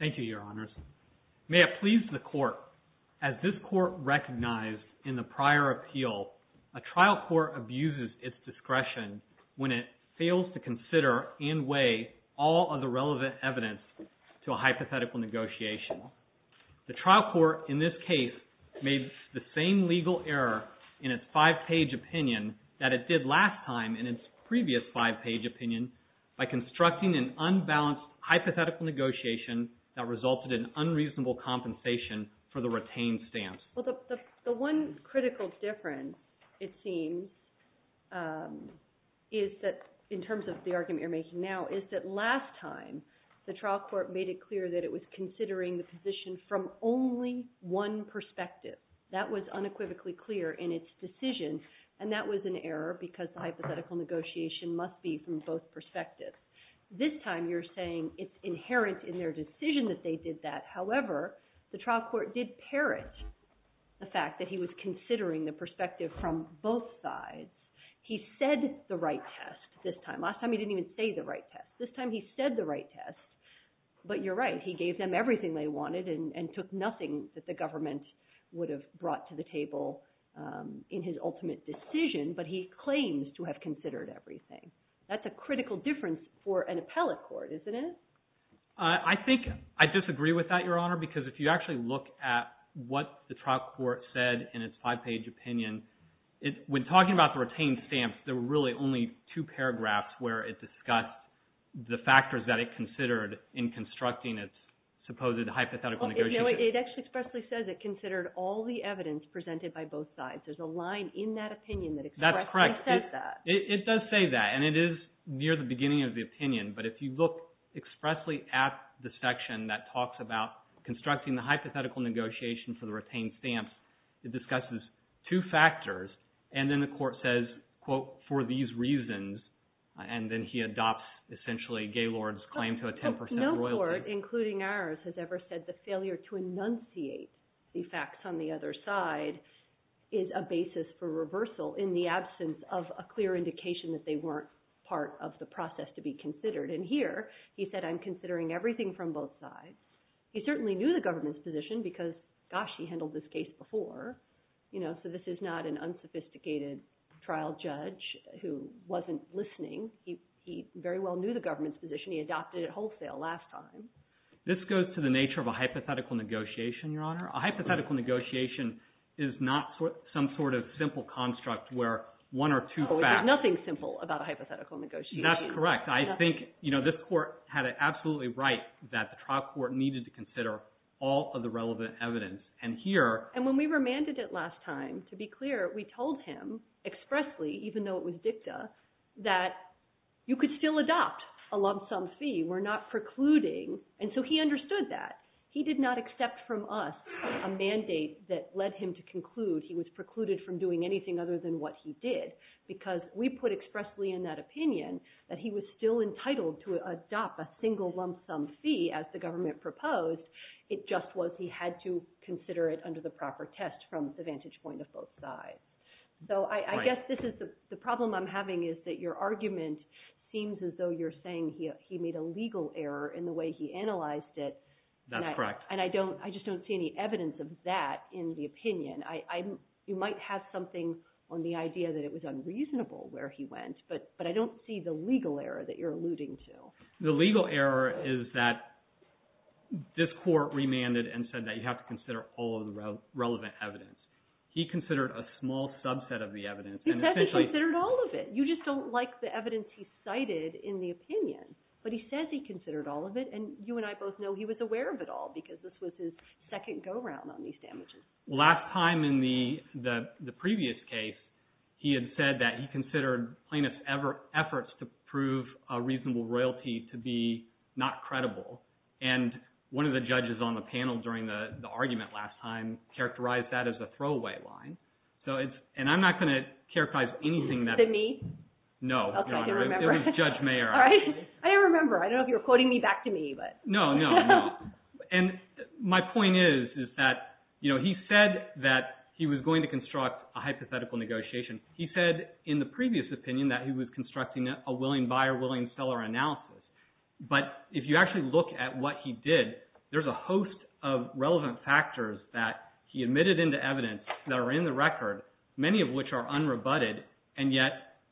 Thank you, Your Honors. May it please the Court, as this Court recognized in the prior appeal, a trial court abuses its discretion when it fails to consider and weigh all of the relevant evidence to a hypothetical negotiation. The trial court in this case made the same legal error in its five-page opinion that it did last time in its previous five-page opinion by constructing an unbalanced hypothetical negotiation that resulted in unreasonable compensation for the retained stance. Well, the one critical difference, it seems, is that, in terms of the argument you're making now, is that last time the trial court made it clear that it was considering the position from only one perspective. That was unequivocally clear in its decision, and that was an error because the hypothetical negotiation must be from both perspectives. This time you're saying it's inherent in their decision that they did that. However, the trial court did parrot the fact that he was considering the perspective from both sides. He said the right test this time. Last time he didn't even say the right test. This time he said the right test. But you're right. He gave them everything they wanted and took nothing that the government would have brought to the table in his ultimate decision, but he claims to have considered everything. That's a critical difference for an appellate court, isn't it? I think I disagree with that, Your Honor, because if you actually look at what the trial court said in its five-page opinion, when talking about the retained stance, there were really only two paragraphs where it discussed the factors that it considered in constructing its supposed hypothetical negotiation. It actually expressly says it considered all the evidence presented by both sides. There's a line in that opinion that expressly says that. It does say that, and it is near the beginning of the opinion, but if you look expressly at the section that talks about constructing the hypothetical negotiation for the retained stance, it discusses two factors, and then the court says, quote, for these reasons, and then he adopts, essentially, Gaylord's claim to a 10% royalty. No court, including ours, has ever said the failure to enunciate the facts on the other side is a basis for reversal in the absence of a clear indication that they weren't part of the process to be considered, and here, he said, I'm considering everything from both sides. He certainly knew the government's position because, gosh, he handled this case before, so this is not an unsophisticated trial judge who wasn't listening. He very well knew the government's position. He adopted it wholesale last time. This goes to the nature of a hypothetical negotiation, Your Honor. A hypothetical negotiation is not some sort of simple construct where one or two facts... Oh, there's nothing simple about a hypothetical negotiation. That's correct. I think this court had it absolutely right that the trial court needed to consider all of the relevant evidence, and here... And when we remanded it last time, to be clear, we told him expressly, even though it was a lump-sum fee, we're not precluding, and so he understood that. He did not accept from us a mandate that led him to conclude he was precluded from doing anything other than what he did because we put expressly in that opinion that he was still entitled to adopt a single lump-sum fee as the government proposed. It just was he had to consider it under the proper test from the vantage point of both sides. So I guess this is the problem I'm having is that your argument seems as though you're saying he made a legal error in the way he analyzed it. That's correct. And I just don't see any evidence of that in the opinion. You might have something on the idea that it was unreasonable where he went, but I don't see the legal error that you're alluding to. The legal error is that this court remanded and said that you have to consider all of the relevant evidence. He considered a small subset of the evidence and essentially... You just don't like the evidence he cited in the opinion, but he says he considered all of it, and you and I both know he was aware of it all because this was his second go-round on these damages. Last time in the previous case, he had said that he considered plaintiff's efforts to prove a reasonable royalty to be not credible, and one of the judges on the panel during the argument last time characterized that as a throwaway line. So it's... And I'm not going to characterize anything that... Was it me? No, Your Honor. Okay, I didn't remember. It was Judge Mayer, actually. All right. I didn't remember. I don't know if you were quoting me back to me, but... No, no, no. And my point is that he said that he was going to construct a hypothetical negotiation. He said in the previous opinion that he was constructing a willing buyer-willing seller analysis, but if you actually look at what he did, there's a host of relevant factors that he admitted into evidence that are in the record, many of which are unrebutted, and yet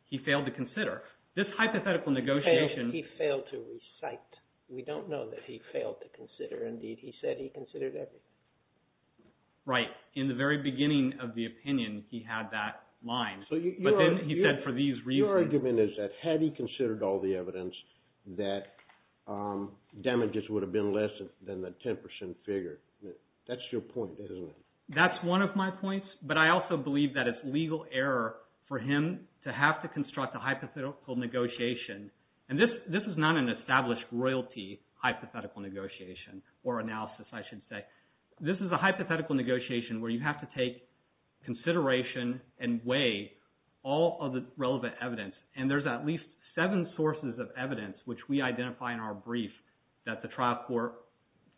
he failed to consider. This hypothetical negotiation... He failed to recite. We don't know that he failed to consider. Indeed, he said he considered everything. Right. In the very beginning of the opinion, he had that line, but then he said for these reasons... So your argument is that had he considered all the evidence, that damages would have been less than the 10 percent figure. That's your point, isn't it? That's one of my points, but I also believe that it's legal error for him to have to construct a hypothetical negotiation, and this is not an established royalty hypothetical negotiation or analysis, I should say. This is a hypothetical negotiation where you have to take consideration and weigh all of the relevant evidence, and there's at least seven sources of evidence which we identify in our brief that the trial court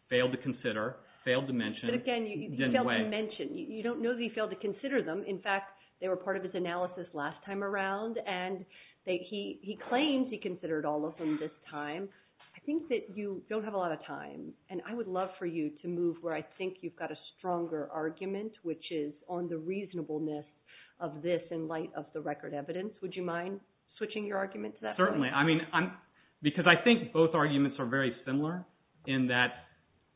failed to consider, failed to mention... But again, he failed to mention. You don't know that he failed to consider them. In fact, they were part of his analysis last time around, and he claims he considered all of them this time. I think that you don't have a lot of time, and I would love for you to move where I think you've got a stronger argument, which is on the reasonableness of this in light of the record evidence. Would you mind switching your argument to that point? Certainly. Because I think both arguments are very similar in that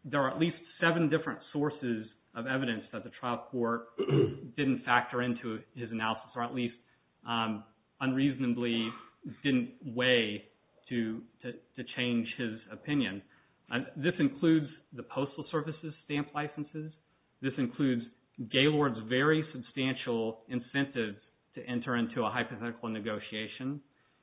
there are at least seven different sources of evidence that the trial court didn't factor into his analysis, or at least unreasonably didn't weigh to change his opinion. This includes the Postal Service's stamp licenses. This includes Gaylord's very substantial incentive to enter into a hypothetical negotiation.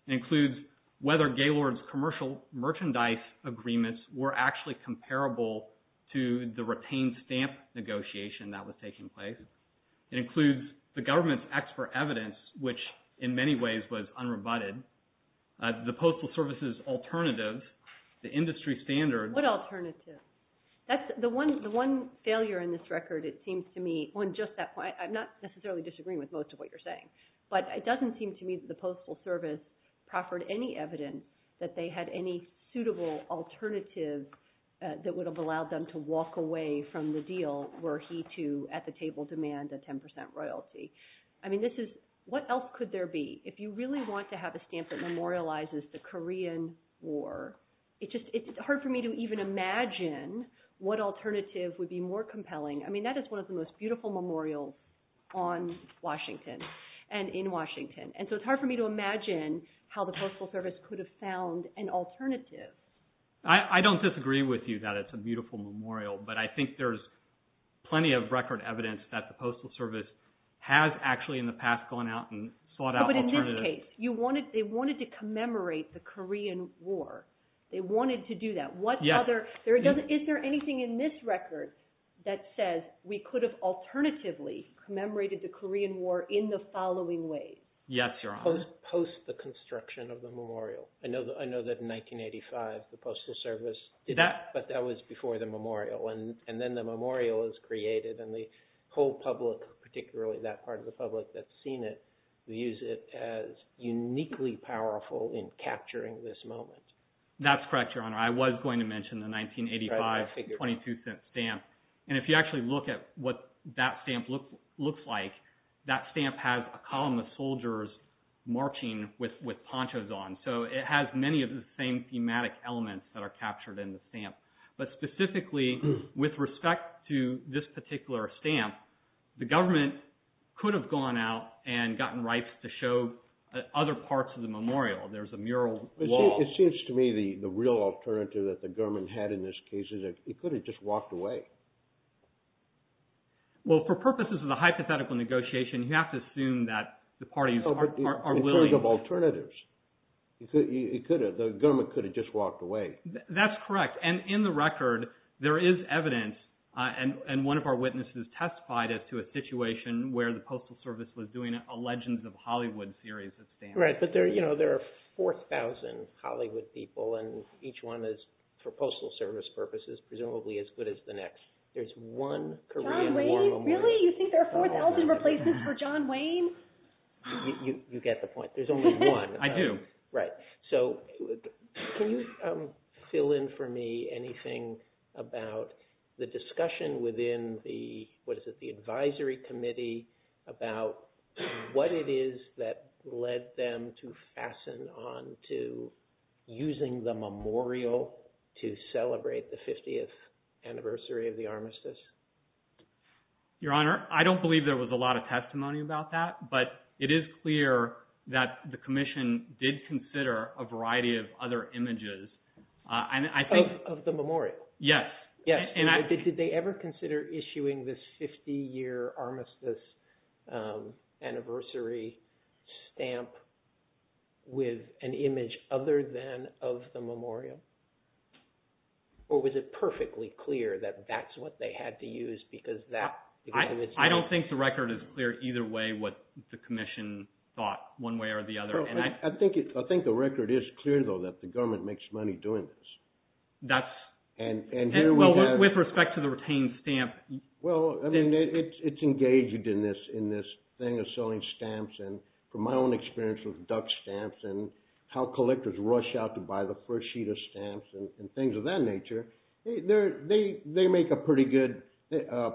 It includes whether Gaylord's commercial merchandise agreements were actually comparable to the retained stamp negotiation that was taking place. It includes the government's expert evidence, which in many ways was unrebutted. The Postal Service's alternative, the industry standards... What alternative? That's the one failure in this record, it seems to me, on just that point. I'm not necessarily disagreeing with most of what you're saying, but it doesn't seem to me that the Postal Service proffered any evidence that they had any suitable alternative that would have allowed them to walk away from the deal were he to, at the table, demand a 10% royalty. What else could there be? If you really want to have a stamp that memorializes the Korean War, it's hard for me to even imagine what alternative would be more compelling. That is one of the most beautiful memorials on Washington and in Washington. So it's hard for me to imagine how the Postal Service could have found an alternative. I don't disagree with you that it's a beautiful memorial, but I think there's plenty of record evidence that the Postal Service has actually in the past gone out and sought out alternatives. But in this case, they wanted to commemorate the Korean War. They wanted to do that. What other... Is there anything in this record that says we could have alternatively commemorated the Korean War in the following ways? Yes, Your Honor. Post the construction of the memorial. I know that in 1985, the Postal Service did that, but that was before the memorial. And then the memorial is created and the whole public, particularly that part of the public that's seen it, views it as uniquely powerful in capturing this moment. That's correct, Your Honor. I was going to mention the 1985 22-cent stamp. And if you actually look at what that stamp looks like, that stamp has a column of soldiers marching with ponchos on. So it has many of the same thematic elements that are captured in the stamp. But specifically, with respect to this particular stamp, the government could have gone out and gotten rights to show other parts of the memorial. There's a mural wall. It seems to me the real alternative that the government had in this case is it could have just walked away. Well, for purposes of the hypothetical negotiation, you have to assume that the parties are willing. In terms of alternatives, the government could have just walked away. That's correct. And in the record, there is evidence, and one of our witnesses testified as to a situation where the Postal Service was doing a Legends of Hollywood series of stamps. Right. But there are 4,000 Hollywood people, and each one is, for Postal Service purposes, presumably as good as the next. There's one Korean war memorial. John Wayne? Really? You think there are 4,000 replacements for John Wayne? You get the point. There's only one. I do. Right. So can you fill in for me anything about the discussion within the, what is it, the advisory committee about what it is that led them to fasten on to using the memorial to celebrate the 50th anniversary of the armistice? Your Honor, I don't believe there was a lot of testimony about that, but it is clear that the Commission did consider a variety of other images. Of the memorial? Yes. Did they ever consider issuing this 50-year armistice anniversary stamp with an image other than of the memorial? Or was it perfectly clear that that's what they had to use because that was... I don't think the record is clear either way what the Commission thought, one way or the other. I think the record is clear, though, that the government makes money doing this. With respect to the retained stamp... Well, it's engaged in this thing of selling stamps, and from my own experience with Dutch collectors rush out to buy the first sheet of stamps and things of that nature, they make a pretty good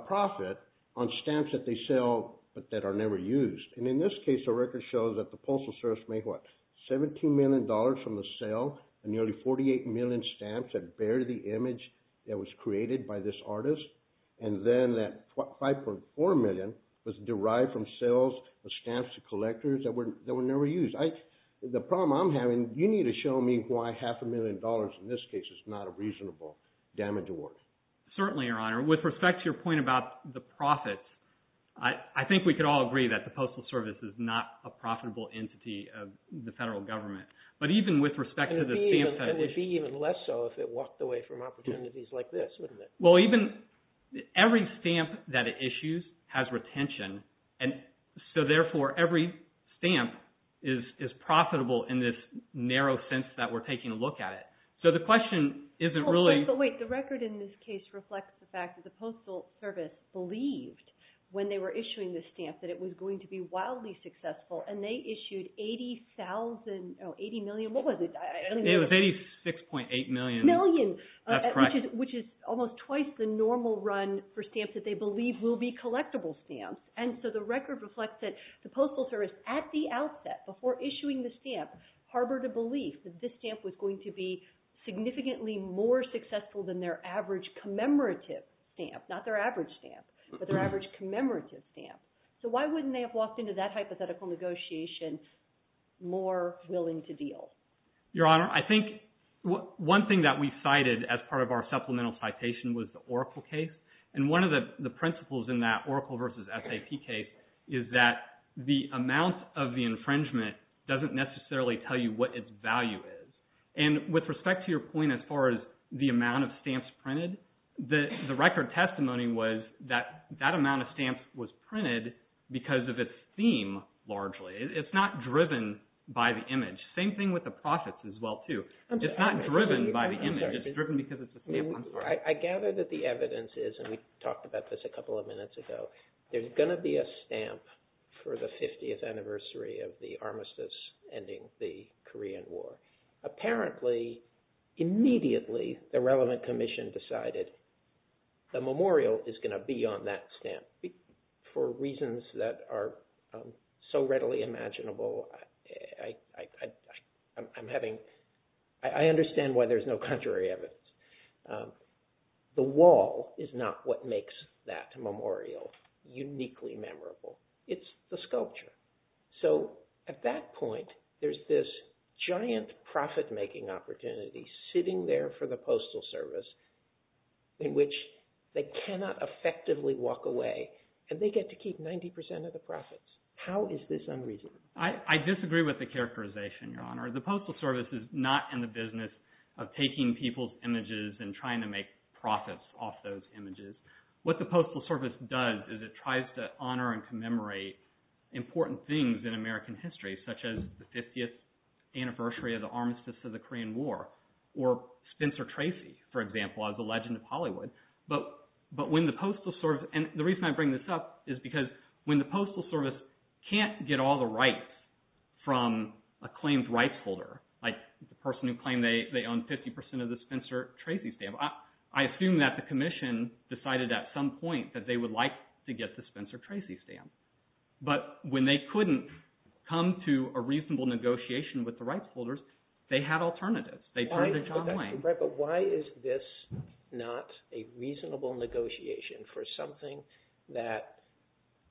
profit on stamps that they sell but that are never used. And in this case, the record shows that the Postal Service made, what, $17 million from the sale of nearly 48 million stamps that bear the image that was created by this artist, and then that $5.4 million was derived from sales of stamps to collectors that were never used. The problem I'm having, you need to show me why half a million dollars in this case is not a reasonable damage award. Certainly, Your Honor. With respect to your point about the profits, I think we could all agree that the Postal Service is not a profitable entity of the federal government. But even with respect to the stamp that was... And it'd be even less so if it walked away from opportunities like this, wouldn't it? Well, every stamp that it issues has retention, and so therefore, every stamp is profitable in this narrow sense that we're taking a look at it. So the question isn't really... But wait, the record in this case reflects the fact that the Postal Service believed when they were issuing the stamp that it was going to be wildly successful, and they issued 80,000... Oh, 80 million? What was it? I don't remember. It was 86.8 million. Million. That's correct. Which is almost twice the normal run for stamps that they believe will be collectible stamps. And so the record reflects that the Postal Service, at the outset, before issuing the stamp, harbored a belief that this stamp was going to be significantly more successful than their average commemorative stamp. Not their average stamp, but their average commemorative stamp. So why wouldn't they have walked into that hypothetical negotiation more willing to deal? Your Honor, I think one thing that we cited as part of our supplemental citation was the Oracle case, and one of the principles in that Oracle versus SAP case is that the amount of the infringement doesn't necessarily tell you what its value is. And with respect to your point as far as the amount of stamps printed, the record testimony was that that amount of stamps was printed because of its theme, largely. It's not driven by the image. Same thing with the profits as well, too. It's not driven by the image. It's driven because it's a stamp. I'm sorry. I gather that the evidence is, and we talked about this a couple of minutes ago, there's going to be a stamp for the 50th anniversary of the armistice ending the Korean War. Apparently, immediately, the relevant commission decided the memorial is going to be on that stamp. For reasons that are so readily imaginable, I understand why there's no contrary evidence. The wall is not what makes that memorial uniquely memorable. It's the sculpture. So at that point, there's this giant profit-making opportunity sitting there for the Postal Service in which they cannot effectively walk away, and they get to keep 90% of the profits. How is this unreasonable? I disagree with the characterization, Your Honor. The Postal Service is not in the business of taking people's images and trying to make profits off those images. What the Postal Service does is it tries to honor and commemorate important things in American history, such as the 50th anniversary of the armistice of the Korean War, or Spencer Tracy's stamp law, the legend of Hollywood. The reason I bring this up is because when the Postal Service can't get all the rights from a claimed rights holder, like the person who claimed they owned 50% of the Spencer Tracy stamp, I assume that the commission decided at some point that they would like to get the Spencer Tracy stamp. But when they couldn't come to a reasonable negotiation with the rights holders, they had alternatives. They turned to John Wayne. But why is this not a reasonable negotiation for something that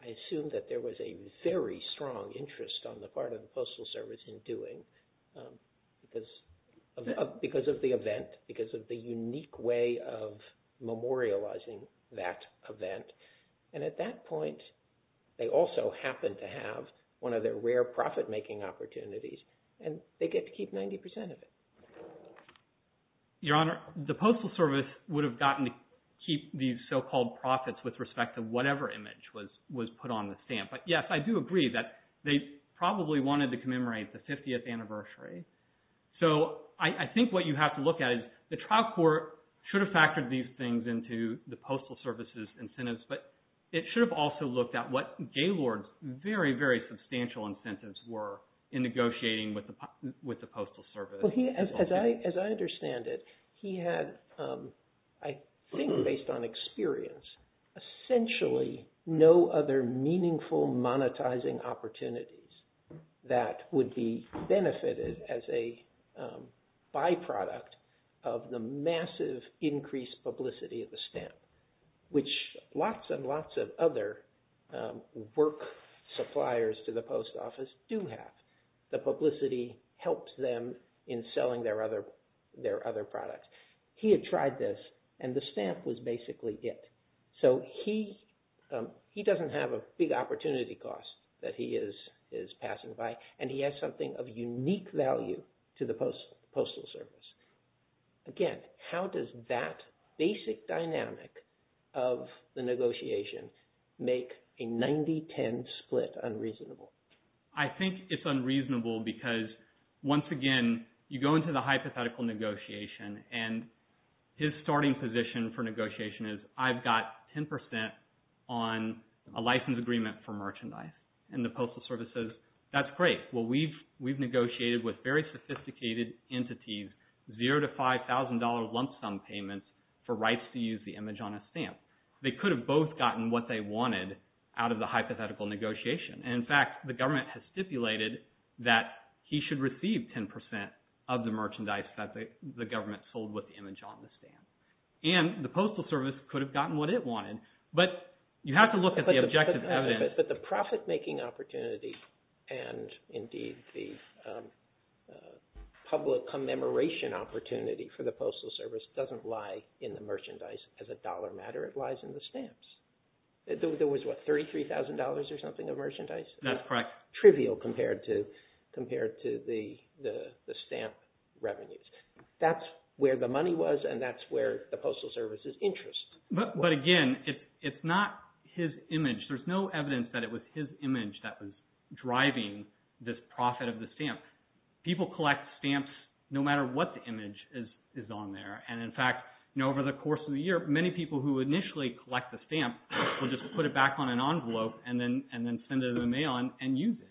I assume that there was a very strong interest on the part of the Postal Service in doing, because of the event, because of the unique way of memorializing that event. And at that point, they also happen to have one of their rare profit-making opportunities, and they get to keep 90% of it. Your Honor, the Postal Service would have gotten to keep these so-called profits with respect to whatever image was put on the stamp. But yes, I do agree that they probably wanted to commemorate the 50th anniversary. So I think what you have to look at is the trial court should have factored these things into the Postal Service's incentives, but it should have also looked at what Gaylord's very, very substantial incentives were in negotiating with the Postal Service. Well, as I understand it, he had, I think based on experience, essentially no other meaningful monetizing opportunities that would be benefited as a byproduct of the massive increased publicity of the stamp, which lots and lots of other work suppliers to the Post Office do have. The publicity helps them in selling their other products. He had tried this, and the stamp was basically it. So he doesn't have a big opportunity cost that he is passing by, and he has something of unique value to the Postal Service. Again, how does that basic dynamic of the negotiation make a 90-10 split unreasonable? I think it's unreasonable because, once again, you go into the hypothetical negotiation, and his starting position for negotiation is, I've got 10 percent on a license agreement for merchandise, and the Postal Service says, that's great. Well, we've negotiated with very sophisticated entities, zero to $5,000 lump sum payments for rights to use the image on a stamp. They could have both gotten what they wanted out of the hypothetical negotiation. In fact, the government has stipulated that he should receive 10 percent of the merchandise that the government sold with the image on the stamp, and the Postal Service could have gotten what it wanted, but you have to look at the objective evidence. But the profit-making opportunity and, indeed, the public commemoration opportunity for the Postal Service doesn't lie in the merchandise as a dollar matter. It lies in the stamps. There was, what, $33,000 or something of merchandise? That's correct. Trivial compared to the stamp revenues. That's where the money was, and that's where the Postal Service's interest. But, again, it's not his image. There's no evidence that it was his image that was driving this profit of the stamp. People collect stamps no matter what the image is on there. And, in fact, over the course of the year, many people who initially collect the stamp will just put it back on an envelope and then send it in the mail and use it.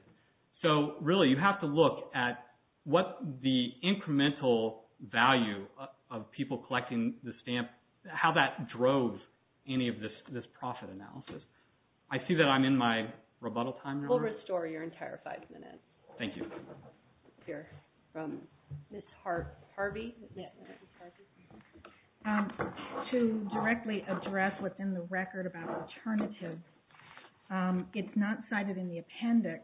So, really, you have to look at what the incremental value of people collecting the stamp, how that drove any of this profit analysis. I see that I'm in my rebuttal time now. We'll restore your entire five minutes. Thank you. We'll hear from Ms. Harvey. To directly address within the record about alternatives, it's not cited in the appendix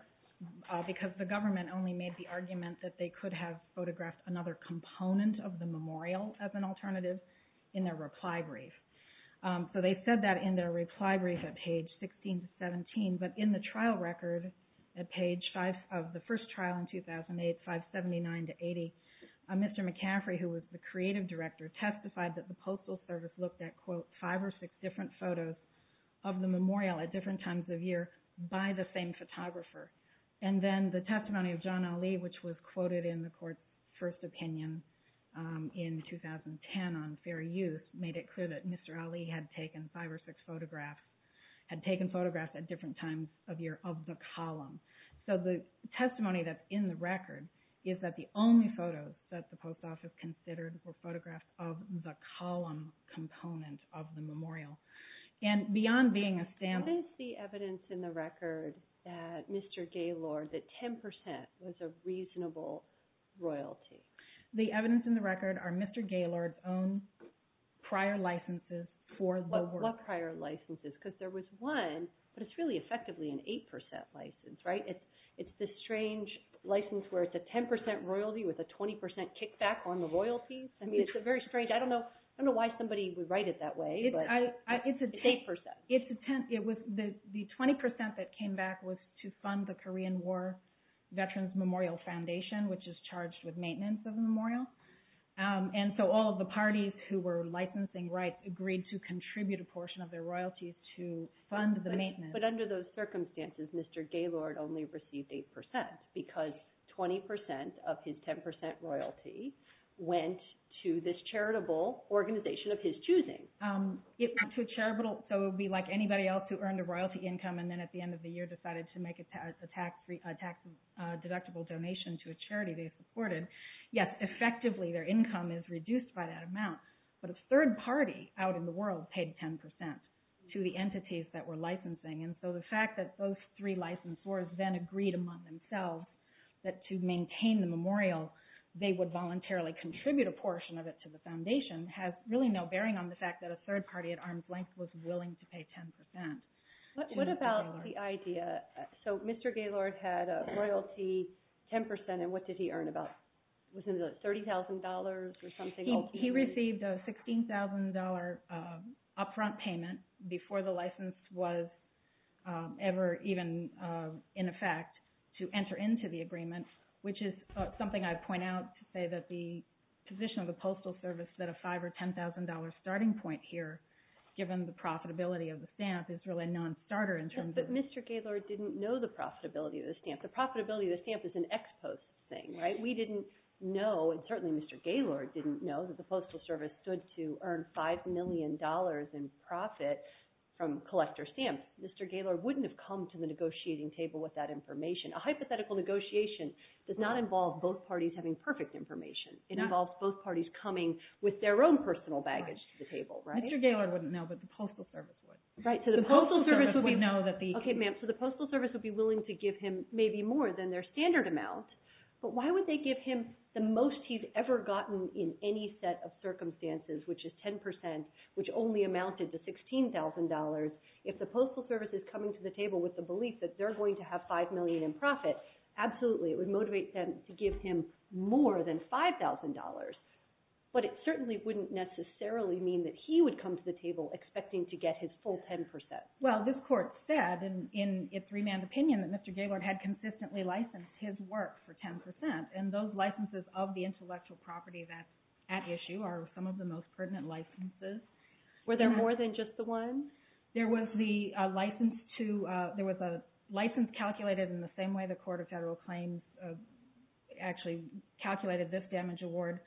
because the government only made the argument that they could have photographed another component of the memorial as an alternative in their reply brief. So they said that in their reply brief at page 16 to 17. But in the trial record at page 5 of the first trial in 2008, 579 to 80, Mr. McCaffrey, who was the creative director, testified that the Postal Service looked at, quote, five or six different photos of the memorial at different times of year by the same photographer. And then the testimony of John Ali, which was quoted in the court's first opinion in 2010 on fair use, made it clear that Mr. Ali had taken five or six photographs, had taken photographs at different times of year of the column. So the testimony that's in the record is that the only photos that the post office considered were photographs of the column component of the memorial. And beyond being a stamp... What is the evidence in the record that Mr. Gaylord, that 10% was a reasonable royalty? The evidence in the record are Mr. Gaylord's own prior licenses for the work. What prior licenses? Because there was one, but it's really effectively an 8% license, right? It's this strange license where it's a 10% royalty with a 20% kickback on the royalties. I mean, it's very strange. I don't know why somebody would write it that way, but it's 8%. The 20% that came back was to fund the Korean War Veterans Memorial Foundation, which is charged with maintenance of the memorial. And so all of the parties who were licensing rights agreed to contribute a portion of their royalties to fund the maintenance. But under those circumstances, Mr. Gaylord only received 8% because 20% of his 10% royalty went to this charitable organization of his choosing. So it would be like anybody else who earned a royalty income and then at the end of the supported. Yes, effectively their income is reduced by that amount, but a third party out in the world paid 10% to the entities that were licensing. And so the fact that those three licensors then agreed among themselves that to maintain the memorial, they would voluntarily contribute a portion of it to the foundation has really no bearing on the fact that a third party at arm's length was willing to pay 10%. What about the idea? So Mr. Gaylord had a royalty 10%, and what did he earn about? Was it $30,000 or something? He received a $16,000 upfront payment before the license was ever even in effect to enter into the agreement, which is something I'd point out to say that the position of the Postal Service that a $5,000 or $10,000 starting point here, given the profitability of the stamp, is really a non-starter in terms of- But Mr. Gaylord didn't know the profitability of the stamp. The profitability of the stamp is an ex-post thing, right? We didn't know, and certainly Mr. Gaylord didn't know, that the Postal Service stood to earn $5 million in profit from collector stamps. Mr. Gaylord wouldn't have come to the negotiating table with that information. A hypothetical negotiation does not involve both parties having perfect information. It involves both parties coming with their own personal baggage to the table, right? Mr. Gaylord wouldn't know, but the Postal Service would. The Postal Service would know that the- Okay, ma'am. So the Postal Service would be willing to give him maybe more than their standard amount, but why would they give him the most he's ever gotten in any set of circumstances, which is 10%, which only amounted to $16,000, if the Postal Service is coming to the table with the belief that they're going to have $5 million in profit, absolutely. It would motivate them to give him more than $5,000, but it certainly wouldn't necessarily mean that he would come to the table expecting to get his full 10%. Well, this court said in its remand opinion that Mr. Gaylord had consistently licensed his work for 10%, and those licenses of the intellectual property that's at issue are some of the most pertinent licenses. Were there more than just the one? There was a license calculated in the same way the Court of Federal Claims actually calculated this damage award.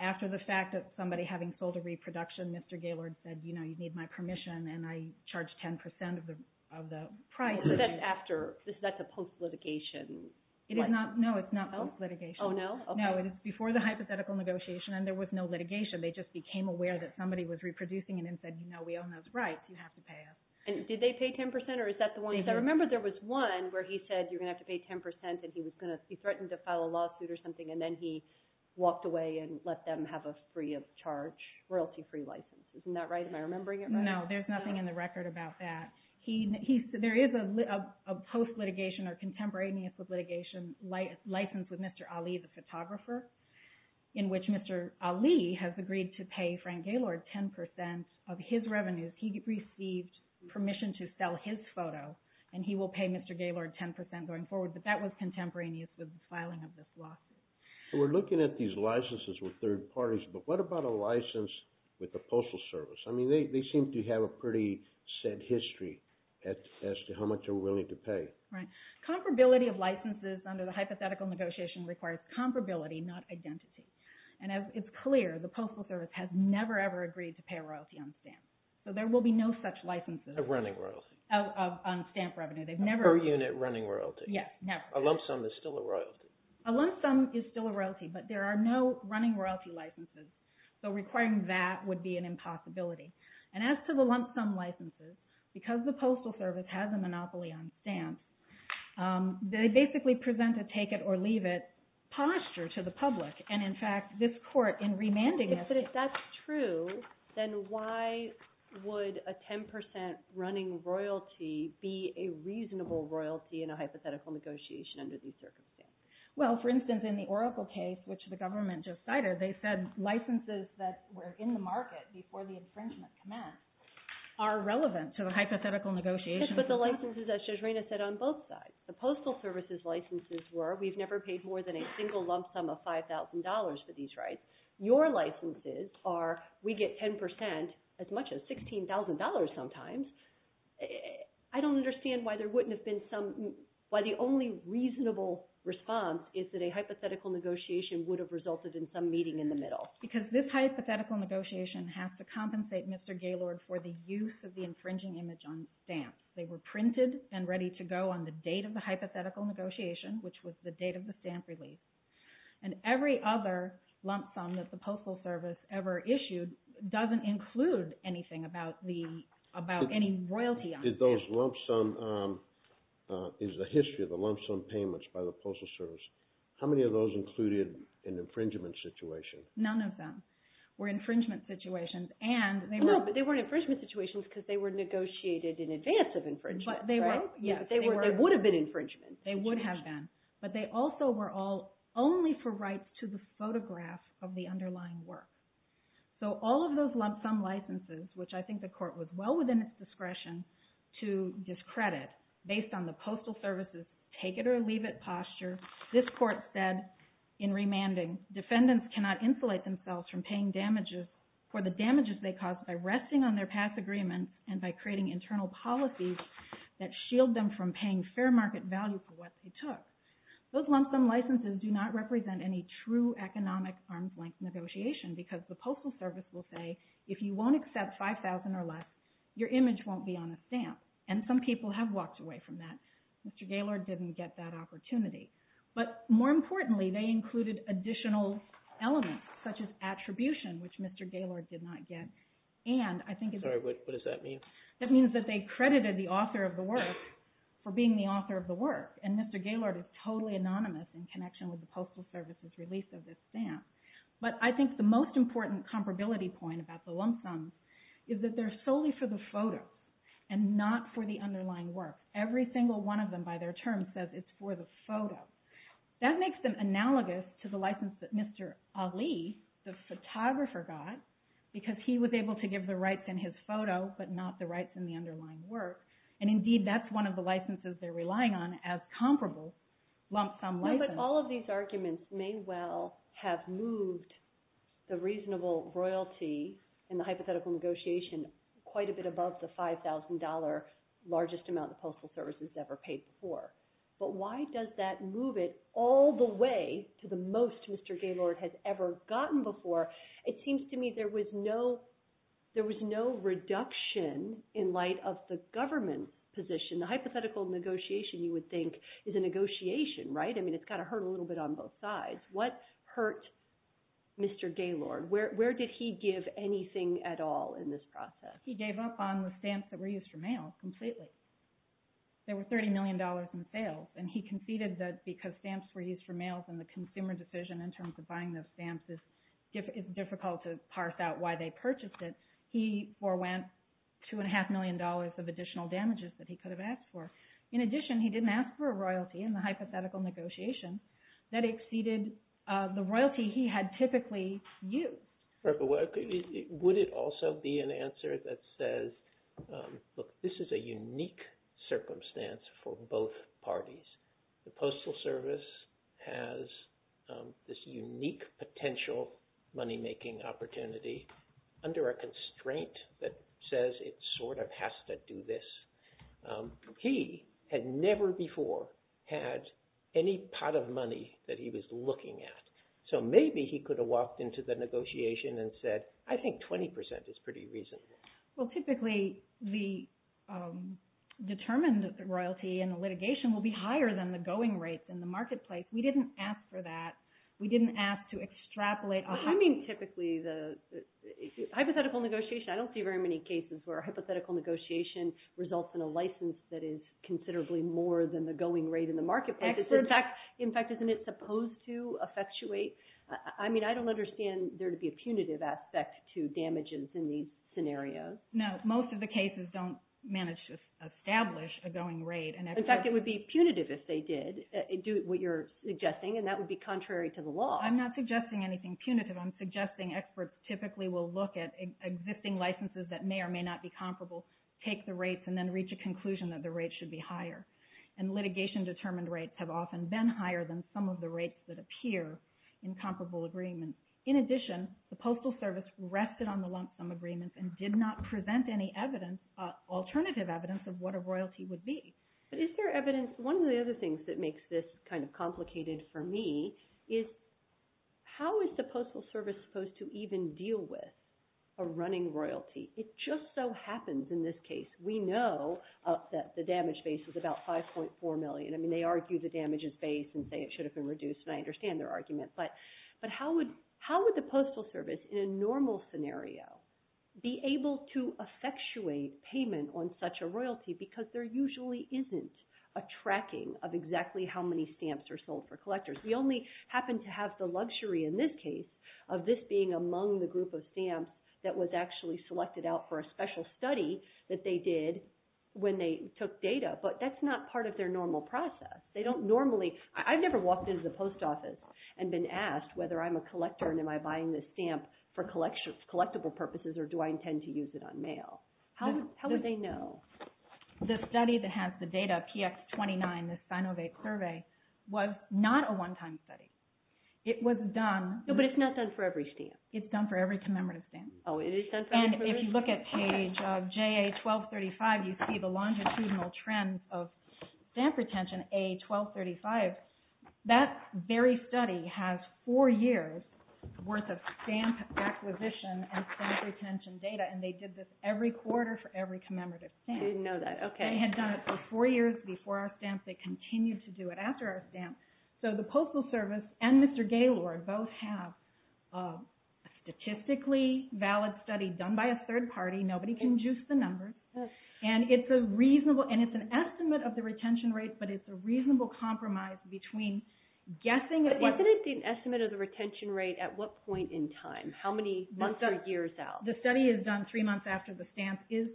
After the fact that somebody having sold a reproduction, Mr. Gaylord said, you know, you need my permission, and I charged 10% of the price. But that's after. That's a post-litigation. No, it's not post-litigation. Oh, no? No, it is before the hypothetical negotiation, and there was no litigation. They just became aware that somebody was reproducing it and said, you know, we own those rights. You have to pay us. And did they pay 10% or is that the one? I remember there was one where he said you're going to have to pay 10% and he threatened to file a lawsuit or something, and then he walked away and let them have a free of charge, royalty-free license. Isn't that right? Am I remembering it right? No, there's nothing in the record about that. There is a post-litigation or contemporaneous with litigation license with Mr. Ali, the photographer, in which Mr. Ali has agreed to pay Frank Gaylord 10% of his revenues. He received permission to sell his photo, and he will pay Mr. Gaylord 10% going forward, but that was contemporaneous with the filing of this lawsuit. So we're looking at these licenses with third parties, but what about a license with the Postal Service? I mean, they seem to have a pretty set history as to how much they're willing to pay. Right. Comparability of licenses under the hypothetical negotiation requires comparability, not identity. And it's clear the Postal Service has never, ever agreed to pay royalty on stamps. So there will be no such licenses. Of running royalty. On stamp revenue. They've never— Per unit running royalty. Yes, never. A lump sum is still a royalty. A lump sum is still a royalty, but there are no running royalty licenses. So requiring that would be an impossibility. And as to the lump sum licenses, because the Postal Service has a monopoly on stamps, they basically present a take-it-or-leave-it posture to the public. And in fact, this Court, in remanding— But if that's true, then why would a 10% running royalty be a reasonable royalty in a hypothetical negotiation under these circumstances? Well, for instance, in the Oracle case, which the government just cited, they said licenses that were in the market before the infringement commenced are relevant to the hypothetical negotiation. Yes, but the licenses, as Shoshana said, on both sides. The Postal Service's licenses were, we've never paid more than a single lump sum of $5,000 for these rights. Your licenses are, we get 10%, as much as $16,000 sometimes. I don't understand why there wouldn't have been some—why the only reasonable response is that a hypothetical negotiation would have resulted in some meeting in the middle. Because this hypothetical negotiation has to compensate Mr. Gaylord for the use of the infringing image on stamps. They were printed and ready to go on the date of the hypothetical negotiation, which was the date of the stamp release. And every other lump sum that the Postal Service ever issued doesn't include anything about any royalty on the stamp. Did those lump sum—is the history of the lump sum payments by the Postal Service, how many of those included an infringement situation? None of them were infringement situations. No, but they weren't infringement situations because they were negotiated in advance of infringement, right? But they were, yes. They would have been infringement. They would have been. But they also were all only for rights to the photograph of the underlying work. So all of those lump sum licenses, which I think the Court was well within its discretion to discredit based on the Postal Service's take-it-or-leave-it posture, this Court said in remanding, defendants cannot insulate themselves from paying damages—for the damages they caused by resting on their past agreements and by creating internal policies that shield them from paying fair market value for what they took. Those lump sum licenses do not represent any true economic arms-length negotiation because the Postal Service will say, if you won't accept $5,000 or less, your image won't be on a stamp. And some people have walked away from that. Mr. Gaylord didn't get that opportunity. But more importantly, they included additional elements, such as attribution, which Mr. Gaylord did not get, and I think— Sorry, what does that mean? That means that they credited the author of the work for being the author of the work. And Mr. Gaylord is totally anonymous in connection with the Postal Service's release of this stamp. But I think the most important comparability point about the lump sums is that they're solely for the photo and not for the underlying work. Every single one of them, by their terms, says it's for the photo. That makes them analogous to the license that Mr. Ali, the photographer, got because he was able to give the rights in his photo but not the rights in the underlying work. And indeed, that's one of the licenses they're relying on as comparable lump sum licenses. But all of these arguments may well have moved the reasonable royalty in the hypothetical negotiation quite a bit above the $5,000 largest amount the Postal Service has ever paid before. But why does that move it all the way to the most Mr. Gaylord has ever gotten before? It seems to me there was no reduction in light of the government position. The hypothetical negotiation, you would think, is a negotiation, right? I mean, it's got to hurt a little bit on both sides. What hurt Mr. Gaylord? Where did he give anything at all in this process? He gave up on the stamps that were used for mails completely. There were $30 million in sales. And he conceded that because stamps were used for mails and the consumer decision in terms of buying those stamps is difficult to parse out why they purchased it. He forwent $2.5 million of additional damages that he could have asked for. In addition, he didn't ask for a royalty in the hypothetical negotiation that exceeded the royalty he had typically used. Would it also be an answer that says, look, this is a unique circumstance for both parties? The Postal Service has this unique potential money-making opportunity under a constraint that says it sort of has to do this. He had never before had any pot of money that he was looking at. So maybe he could have walked into the negotiation and said, I think 20% is pretty reasonable. Well, typically, the determined royalty in the litigation will be higher than the going rates in the marketplace. We didn't ask for that. We didn't ask to extrapolate. What do you mean typically? Hypothetical negotiation, I don't see very many cases where hypothetical negotiation results in a license that is considerably more than the going rate in the marketplace. In fact, isn't it supposed to effectuate? I mean, I don't understand there to be a punitive aspect to damages in these scenarios. No, most of the cases don't manage to establish a going rate. In fact, it would be punitive if they did do what you're suggesting, and that would be contrary to the law. I'm not suggesting anything punitive. I'm suggesting experts typically will look at existing licenses that may or may not be comparable, take the rates, and then reach a conclusion that the rates should be higher. And litigation-determined rates have often been higher than some of the rates that appear in comparable agreements. In addition, the Postal Service rested on the lump sum agreements and did not present any evidence, alternative evidence, of what a royalty would be. But is there evidence? One of the other things that makes this kind of complicated for me is how is the Postal Service supposed to even deal with a running royalty? It just so happens in this case. We know that the damage base is about 5.4 million. I mean, they argue the damage is base and say it should have been reduced, and I understand their argument. But how would the Postal Service, in a normal scenario, be able to effectuate payment on such a royalty? Because there usually isn't a tracking of exactly how many stamps are sold for collectors. We only happen to have the luxury in this case of this being among the group of stamps that was actually selected out for a special study that they did when they took data. But that's not part of their normal process. I've never walked into the post office and been asked whether I'm a collector and am I buying this stamp for collectible purposes, or do I intend to use it on mail? How would they know? The study that has the data, PX-29, the Sinovac survey, was not a one-time study. It was done... No, but it's not done for every stamp. It's done for every commemorative stamp. Oh, it is done for every... And if you look at page of JA-1235, you see the longitudinal trends of stamp retention, JA-1235, that very study has four years worth of stamp acquisition and stamp retention data, and they did this every quarter for every commemorative stamp. I didn't know that. Okay. They had done it for four years before our stamp. They continue to do it after our stamp. So the Postal Service and Mr. Gaylord both have a statistically valid study done by a third party. Nobody can juice the numbers. And it's a reasonable... And it's an estimate of the retention rate, but it's a reasonable compromise between guessing... But isn't it the estimate of the retention rate at what point in time? How many months or years out? The study is done three months after the stamp is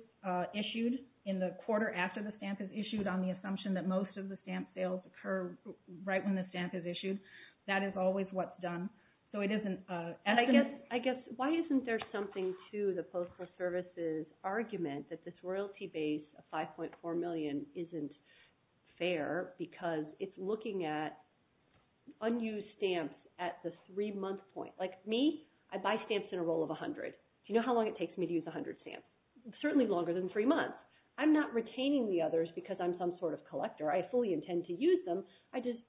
issued, in the quarter after the stamp is issued on the assumption that most of the stamp sales occur right when the stamp is issued. That is always what's done. So it is an estimate... I guess, why isn't there something to the Postal Service's argument that this royalty base of 5.4 million isn't fair because it's looking at unused stamps at the three-month point? Like me, I buy stamps in a roll of 100. Do you know how long it takes me to use 100 stamps? Certainly longer than three months. I'm not retaining the others because I'm some sort of collector. I just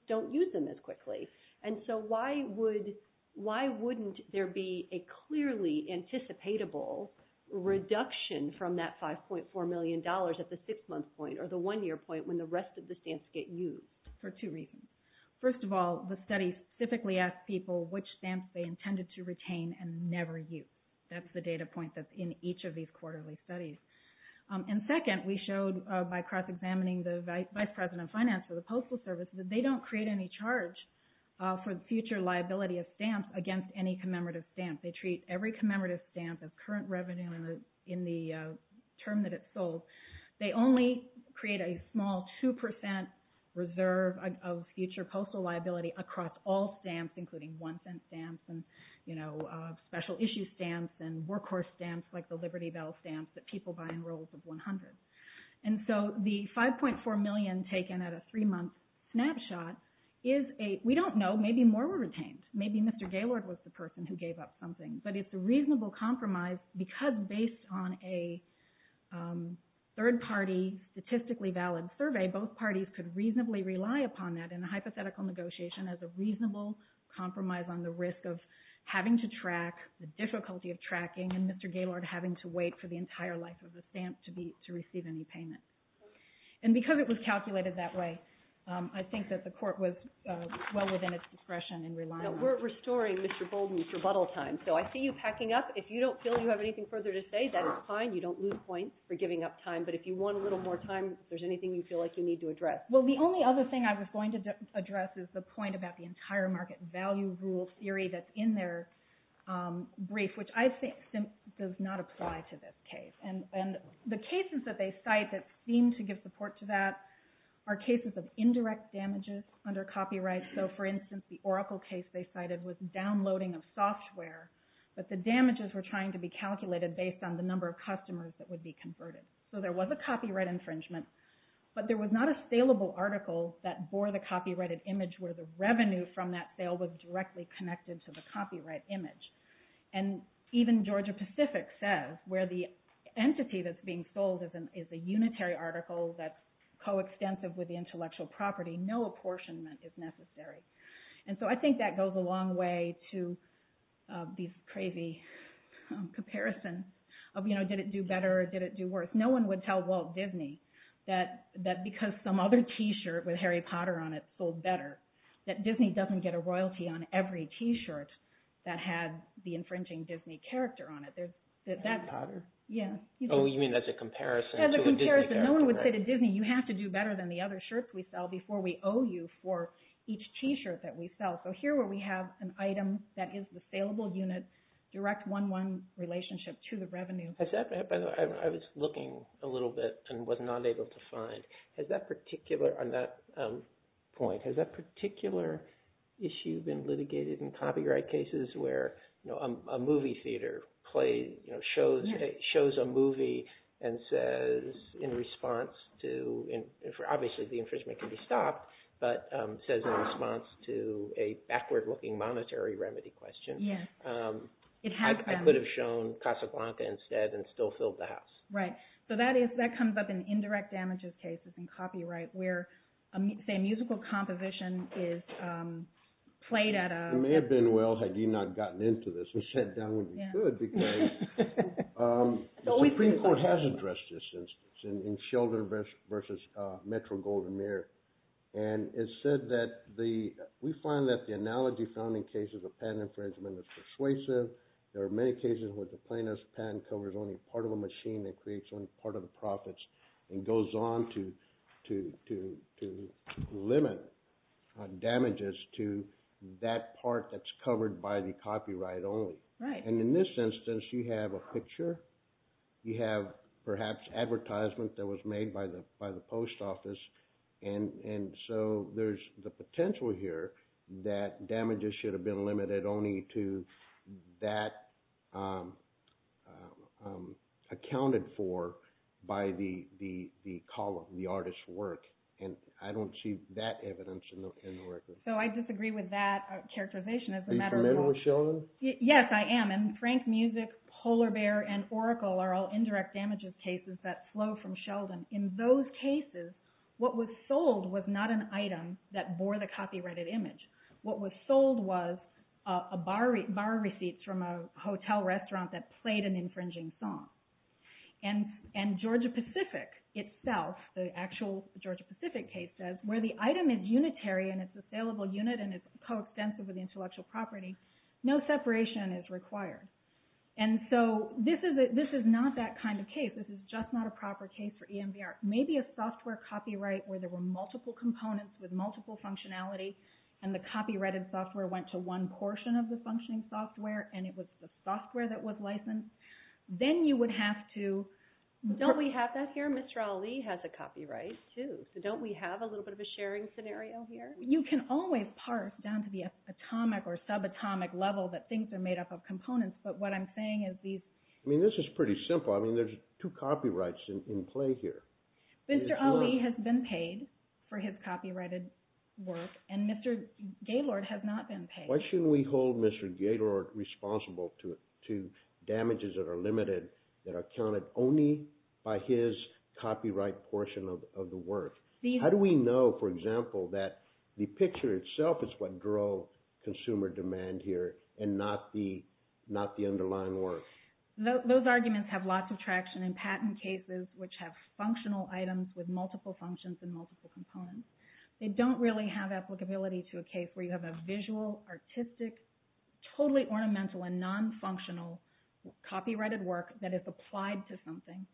don't use them as quickly. And so why wouldn't there be a clearly anticipatable reduction from that $5.4 million at the six-month point or the one-year point when the rest of the stamps get used? For two reasons. First of all, the study specifically asked people which stamps they intended to retain and never use. That's the data point that's in each of these quarterly studies. And second, we showed by cross-examining the Vice President of Finance for the Postal Service that they don't create any charge for the future liability of stamps against any commemorative stamp. They treat every commemorative stamp of current revenue in the term that it's sold. They only create a small 2% reserve of future postal liability across all stamps, including one-cent stamps and special issue stamps and workhorse stamps like the Liberty Bell stamps that people buy in rolls of 100. And so the $5.4 million taken at a three-month snapshot is a... We don't know. Maybe more were retained. Maybe Mr. Gaylord was the person who gave up something. But it's a reasonable compromise because based on a third-party statistically valid survey, both parties could reasonably rely upon that in a hypothetical negotiation as a reasonable compromise on the risk of having to track the difficulty of tracking and Mr. Gaylord having to wait for the entire life of the stamp to receive any payment. And because it was calculated that way, I think that the Court was well within its discretion in relying on it. We're restoring Mr. Bolden's rebuttal time. So I see you packing up. If you don't feel you have anything further to say, that is fine. You don't lose points for giving up time. But if you want a little more time, if there's anything you feel like you need to address. Well, the only other thing I was going to address is the point about the entire market value rule theory that's in their brief, which I think does not apply to this case. And the cases that they cite that seem to give support to that are cases of indirect damages under copyright. So for instance, the Oracle case they cited was downloading of software. But the damages were trying to be calculated based on the number of customers that would be converted. So there was a copyright infringement. But there was not a saleable article that bore the copyrighted image where the revenue from that sale was directly connected to the copyright image. And even Georgia Pacific says where the entity that's being sold is a unitary article that's coextensive with the intellectual property. No apportionment is necessary. And so I think that goes a long way to these crazy comparisons of did it do better or did it do worse. No one would tell Walt Disney that because some other t-shirt with Harry Potter on it that Disney doesn't get a royalty on every t-shirt that had the infringing Disney character on it. Harry Potter? Yeah. Oh, you mean as a comparison to a Disney character? As a comparison. No one would say to Disney, you have to do better than the other shirts we sell before we owe you for each t-shirt that we sell. So here where we have an item that is the saleable unit, direct one-one relationship to the revenue. Has that, by the way, I was looking a little bit and was not able to find. Has that particular, on that point, has that particular issue been litigated in copyright cases where a movie theater shows a movie and says in response to, obviously the infringement can be stopped, but says in response to a backward looking monetary remedy question, I could have shown Casablanca instead and still filled the house. Right. So that comes up in indirect damages cases in copyright where, say, a musical composition is played at a- It may have been well had you not gotten into this. We sat down when we could because the Supreme Court has addressed this instance in Sheldon versus Metro Golden Mirror. And it said that we find that the analogy found in cases of patent infringement is persuasive. There are many cases where the plaintiff's patent covers only part of a machine. It creates only part of the profits and goes on to limit damages to that part that's covered by the copyright only. Right. And in this instance, you have a picture. You have perhaps advertisement that was made by the post office. And so there's the potential here that damages should have been limited only to that that was accounted for by the column, the artist's work. And I don't see that evidence in the record. So I disagree with that characterization. Are you familiar with Sheldon? Yes, I am. And Frank Music, Polar Bear, and Oracle are all indirect damages cases that flow from Sheldon. In those cases, what was sold was not an item that bore the copyrighted image. What was sold was bar receipts from a hotel restaurant that played an infringing song. And Georgia-Pacific itself, the actual Georgia-Pacific case says, where the item is unitary and it's a saleable unit and it's coextensive with intellectual property, no separation is required. And so this is not that kind of case. This is just not a proper case for EMBR. Maybe a software copyright where there were multiple components with multiple functionality and the copyrighted software went to one portion of the functioning software and it was the software that was licensed. Then you would have to- Don't we have that here? Mr. Ali has a copyright too. So don't we have a little bit of a sharing scenario here? You can always parse down to the atomic or subatomic level that things are made up of components. But what I'm saying is these- I mean, this is pretty simple. I mean, there's two copyrights in play here. Mr. Ali has been paid for his copyrighted work and Mr. Gaylord has not been paid. Why shouldn't we hold Mr. Gaylord responsible to damages that are limited, that are counted only by his copyright portion of the work? How do we know, for example, that the picture itself is what drove consumer demand here and not the underlying work? Those arguments have lots of traction in patent cases which have functional items with multiple functions and multiple components. They don't really have applicability to a case where you have a visual, artistic, totally ornamental, and non-functional copyrighted work that is applied to something.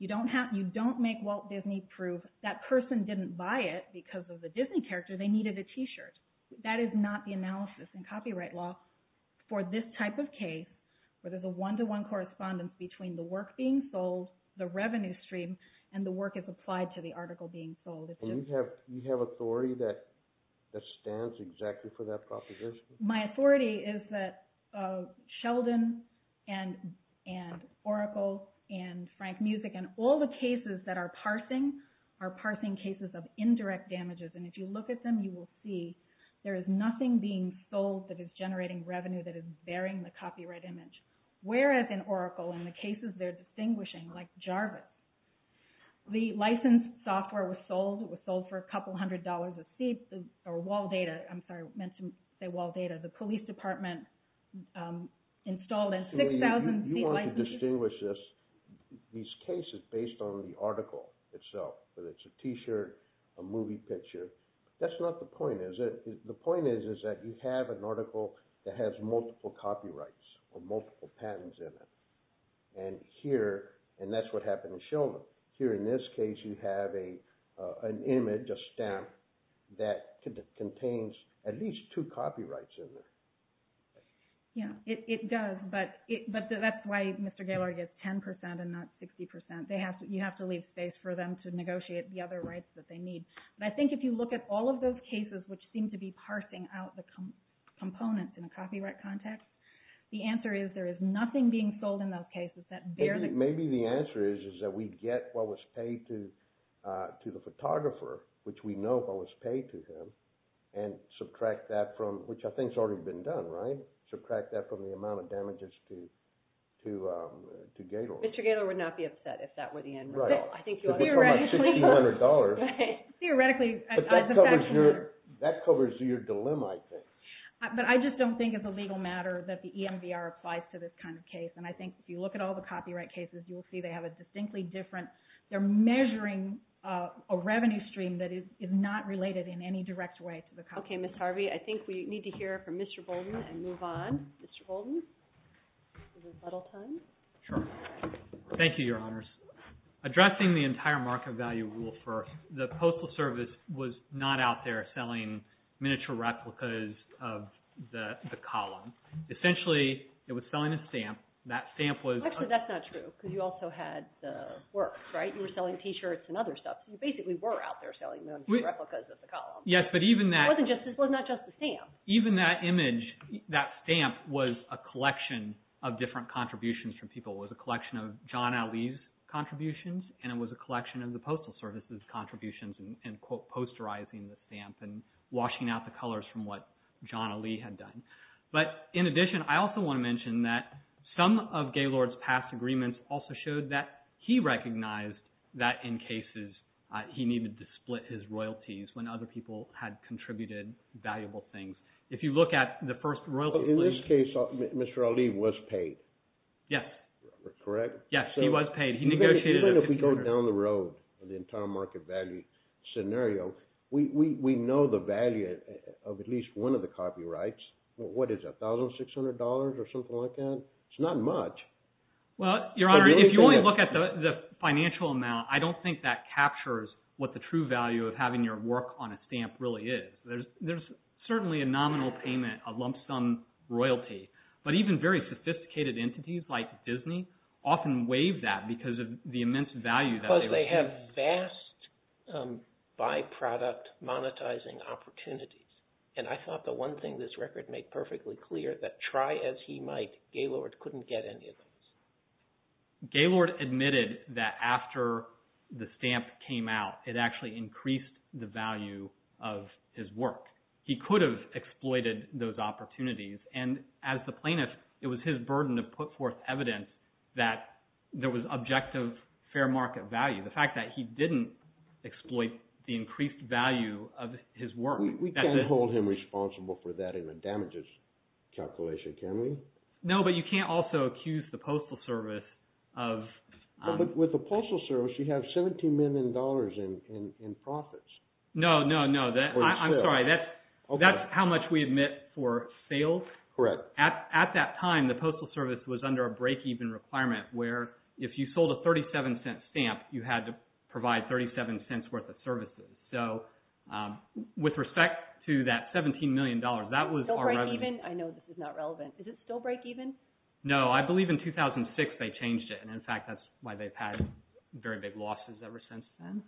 You don't make Walt Disney prove that person didn't buy it because of the Disney character, they needed a t-shirt. That is not the analysis in copyright law for this type of case where there's a one-to-one correspondence between the work being sold, the revenue stream, and the work is applied to the article being sold. And you have authority that stands exactly for that proposition? My authority is that Sheldon and Oracle and Frank Music and all the cases that are parsing are parsing cases of indirect damages. And if you look at them, you will see there is nothing being sold that is generating revenue that is burying the copyright image. Whereas in Oracle, in the cases they're distinguishing, like Jarvis, the licensed software was sold for a couple hundred dollars a seat, or wall data, I'm sorry, I meant to say wall data, the police department installed in 6,000 seat licenses. So you want to distinguish this, these cases based on the article itself, whether it's a t-shirt, a movie picture. That's not the point, is it? The point is that you have an article that has multiple copyrights or multiple patents in it. And here, and that's what happened in Sheldon. Here in this case, you have an image, a stamp, that contains at least two copyrights in there. Yeah, it does. But that's why Mr. Gaylord gets 10% and not 60%. You have to leave space for them to negotiate the other rights that they need. But I think if you look at all of those cases which seem to be parsing out the components in a copyright context, the answer is there is nothing being sold in those cases that bear the... Maybe the answer is that we get what was paid to the photographer, which we know what was paid to him, and subtract that from, which I think has already been done, right? Subtract that from the amount of damages to Gaylord. Mr. Gaylord would not be upset if that were the end result. Right. I think you ought to... Theoretically... Because we're talking about $1,600. Theoretically... That covers your dilemma, I think. But I just don't think it's a legal matter that the EMVR applies to this kind of case. And I think if you look at all the copyright cases, you will see they have a distinctly different... They're measuring a revenue stream that is not related in any direct way to the copyright. Okay, Ms. Harvey, I think we need to hear from Mr. Bolden and move on. Mr. Bolden? Is this a little time? Sure. Thank you, Your Honors. Addressing the entire market value rule first, the Postal Service was not out there selling miniature replicas of the column. Essentially, it was selling a stamp. That stamp was... Actually, that's not true, because you also had the work, right? You were selling T-shirts and other stuff. So you basically were out there selling those replicas of the column. Yes, but even that... It wasn't just... It was not just the stamp. Even that image, that stamp was a collection of different contributions from people. It was a collection of John Ali's contributions, and it was a collection of the Postal Service's contributions in, quote, posterizing the stamp and washing out the colors from what John Ali had done. But in addition, I also want to mention that some of Gaylord's past agreements also showed that he recognized that in cases he needed to split his royalties when other people had contributed valuable things. If you look at the first royalty... In this case, Mr. Ali was paid. Yes. Correct? Yes, he was paid. He negotiated... Even if we go down the road of the entire market value scenario, we know the value of at least one of the copyrights. What is that, $1,600 or something like that? It's not much. Well, Your Honor, if you only look at the financial amount, I don't think that captures what the true value of having your work on a stamp really is. There's certainly a nominal payment, a lump sum royalty. But even very sophisticated entities like Disney often waive that because of the immense value that they receive. Because they have vast byproduct monetizing opportunities. And I thought the one thing this record made perfectly clear, that try as he might, Gaylord couldn't get any of those. Gaylord admitted that after the stamp came out, it actually increased the value of his work. He could have exploited those opportunities. And as the plaintiff, it was his burden to put forth evidence that there was objective fair market value. The fact that he didn't exploit the increased value of his work. We can't hold him responsible for that in the damages calculation, can we? No. But you can't also accuse the Postal Service of... With the Postal Service, you have $17 million in profits. No, no, no. I'm sorry. That's how much we admit for sales? Correct. At that time, the Postal Service was under a break-even requirement where if you sold a $0.37 stamp, you had to provide $0.37 worth of services. So with respect to that $17 million, that was our revenue. I know this is not relevant. Is it still break-even? No. I believe in 2006, they changed it. And in fact, that's why they've had very big losses ever since then.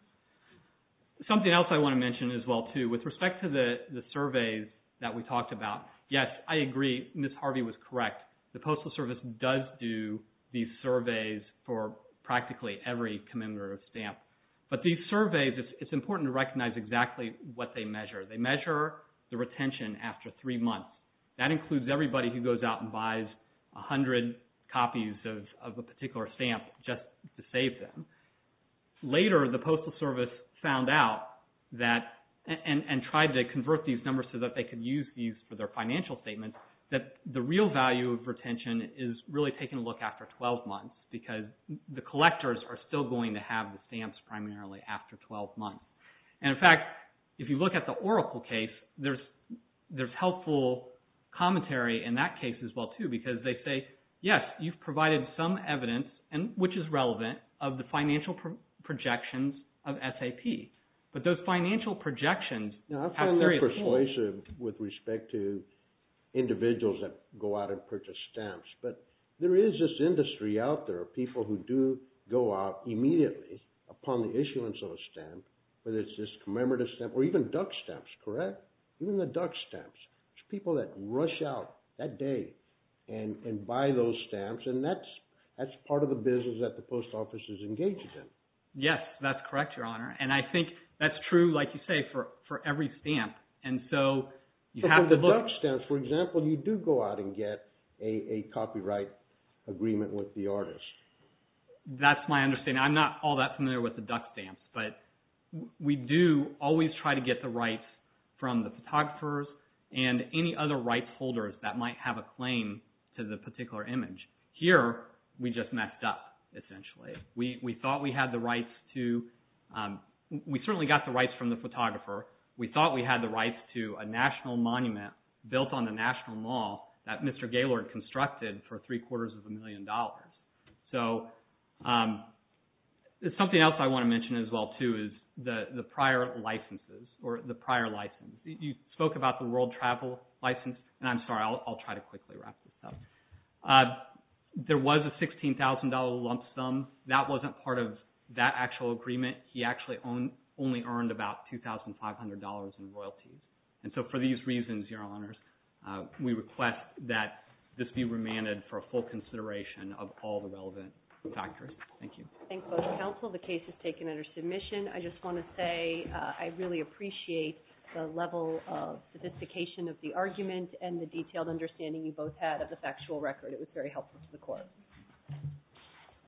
Something else I want to mention as well too, with respect to the surveys that we talked about, yes, I agree. Ms. Harvey was correct. The Postal Service does do these surveys for practically every commemorative stamp. But these surveys, it's important to recognize exactly what they measure. They measure the retention after three months. That includes everybody who goes out and buys 100 copies of a particular stamp just to save them. Later, the Postal Service found out that and tried to convert these numbers so that they could use these for their financial statements, that the real value of retention is really taking a look after 12 months because the collectors are still going to have the stamps primarily after 12 months. And in fact, if you look at the Oracle case, there's helpful commentary in that case as well too because they say, yes, you've provided some evidence, which is relevant, of the financial projections of SAP. But those financial projections have various forms. Now, I find that persuasive with respect to individuals that go out and purchase stamps. But there is this industry out there of people who do go out immediately upon the issuance of a stamp, whether it's this commemorative stamp or even duck stamps, correct? Even the duck stamps. It's people that rush out that day and buy those stamps. And that's part of the business that the Post Office is engaged in. Yes, that's correct, Your Honor. And I think that's true, like you say, for every stamp. And so you have to look- But with the duck stamps, for example, you do go out and get a copyright agreement with the artist. That's my understanding. I'm not all that familiar with the duck stamps, but we do always try to get the rights from the photographers and any other rights holders that might have a claim to the particular image. Here, we just messed up, essentially. We certainly got the rights from the photographer. We thought we had the rights to a national monument built on the National Mall that Mr. Gaylord constructed for three quarters of a million dollars. So something else I want to mention as well, too, is the prior licenses or the prior license. You spoke about the World Travel License. And I'm sorry, I'll try to quickly wrap this up. There was a $16,000 lump sum. That wasn't part of that actual agreement. He actually only earned about $2,500 in royalties. And so for these reasons, Your Honors, we request that this be remanded for a full consideration of all the relevant factors. Thank you. I thank both counsel. The case is taken under submission. I just want to say I really appreciate the level of sophistication of the argument and the detailed understanding you both had of the factual record. It was very helpful to the court.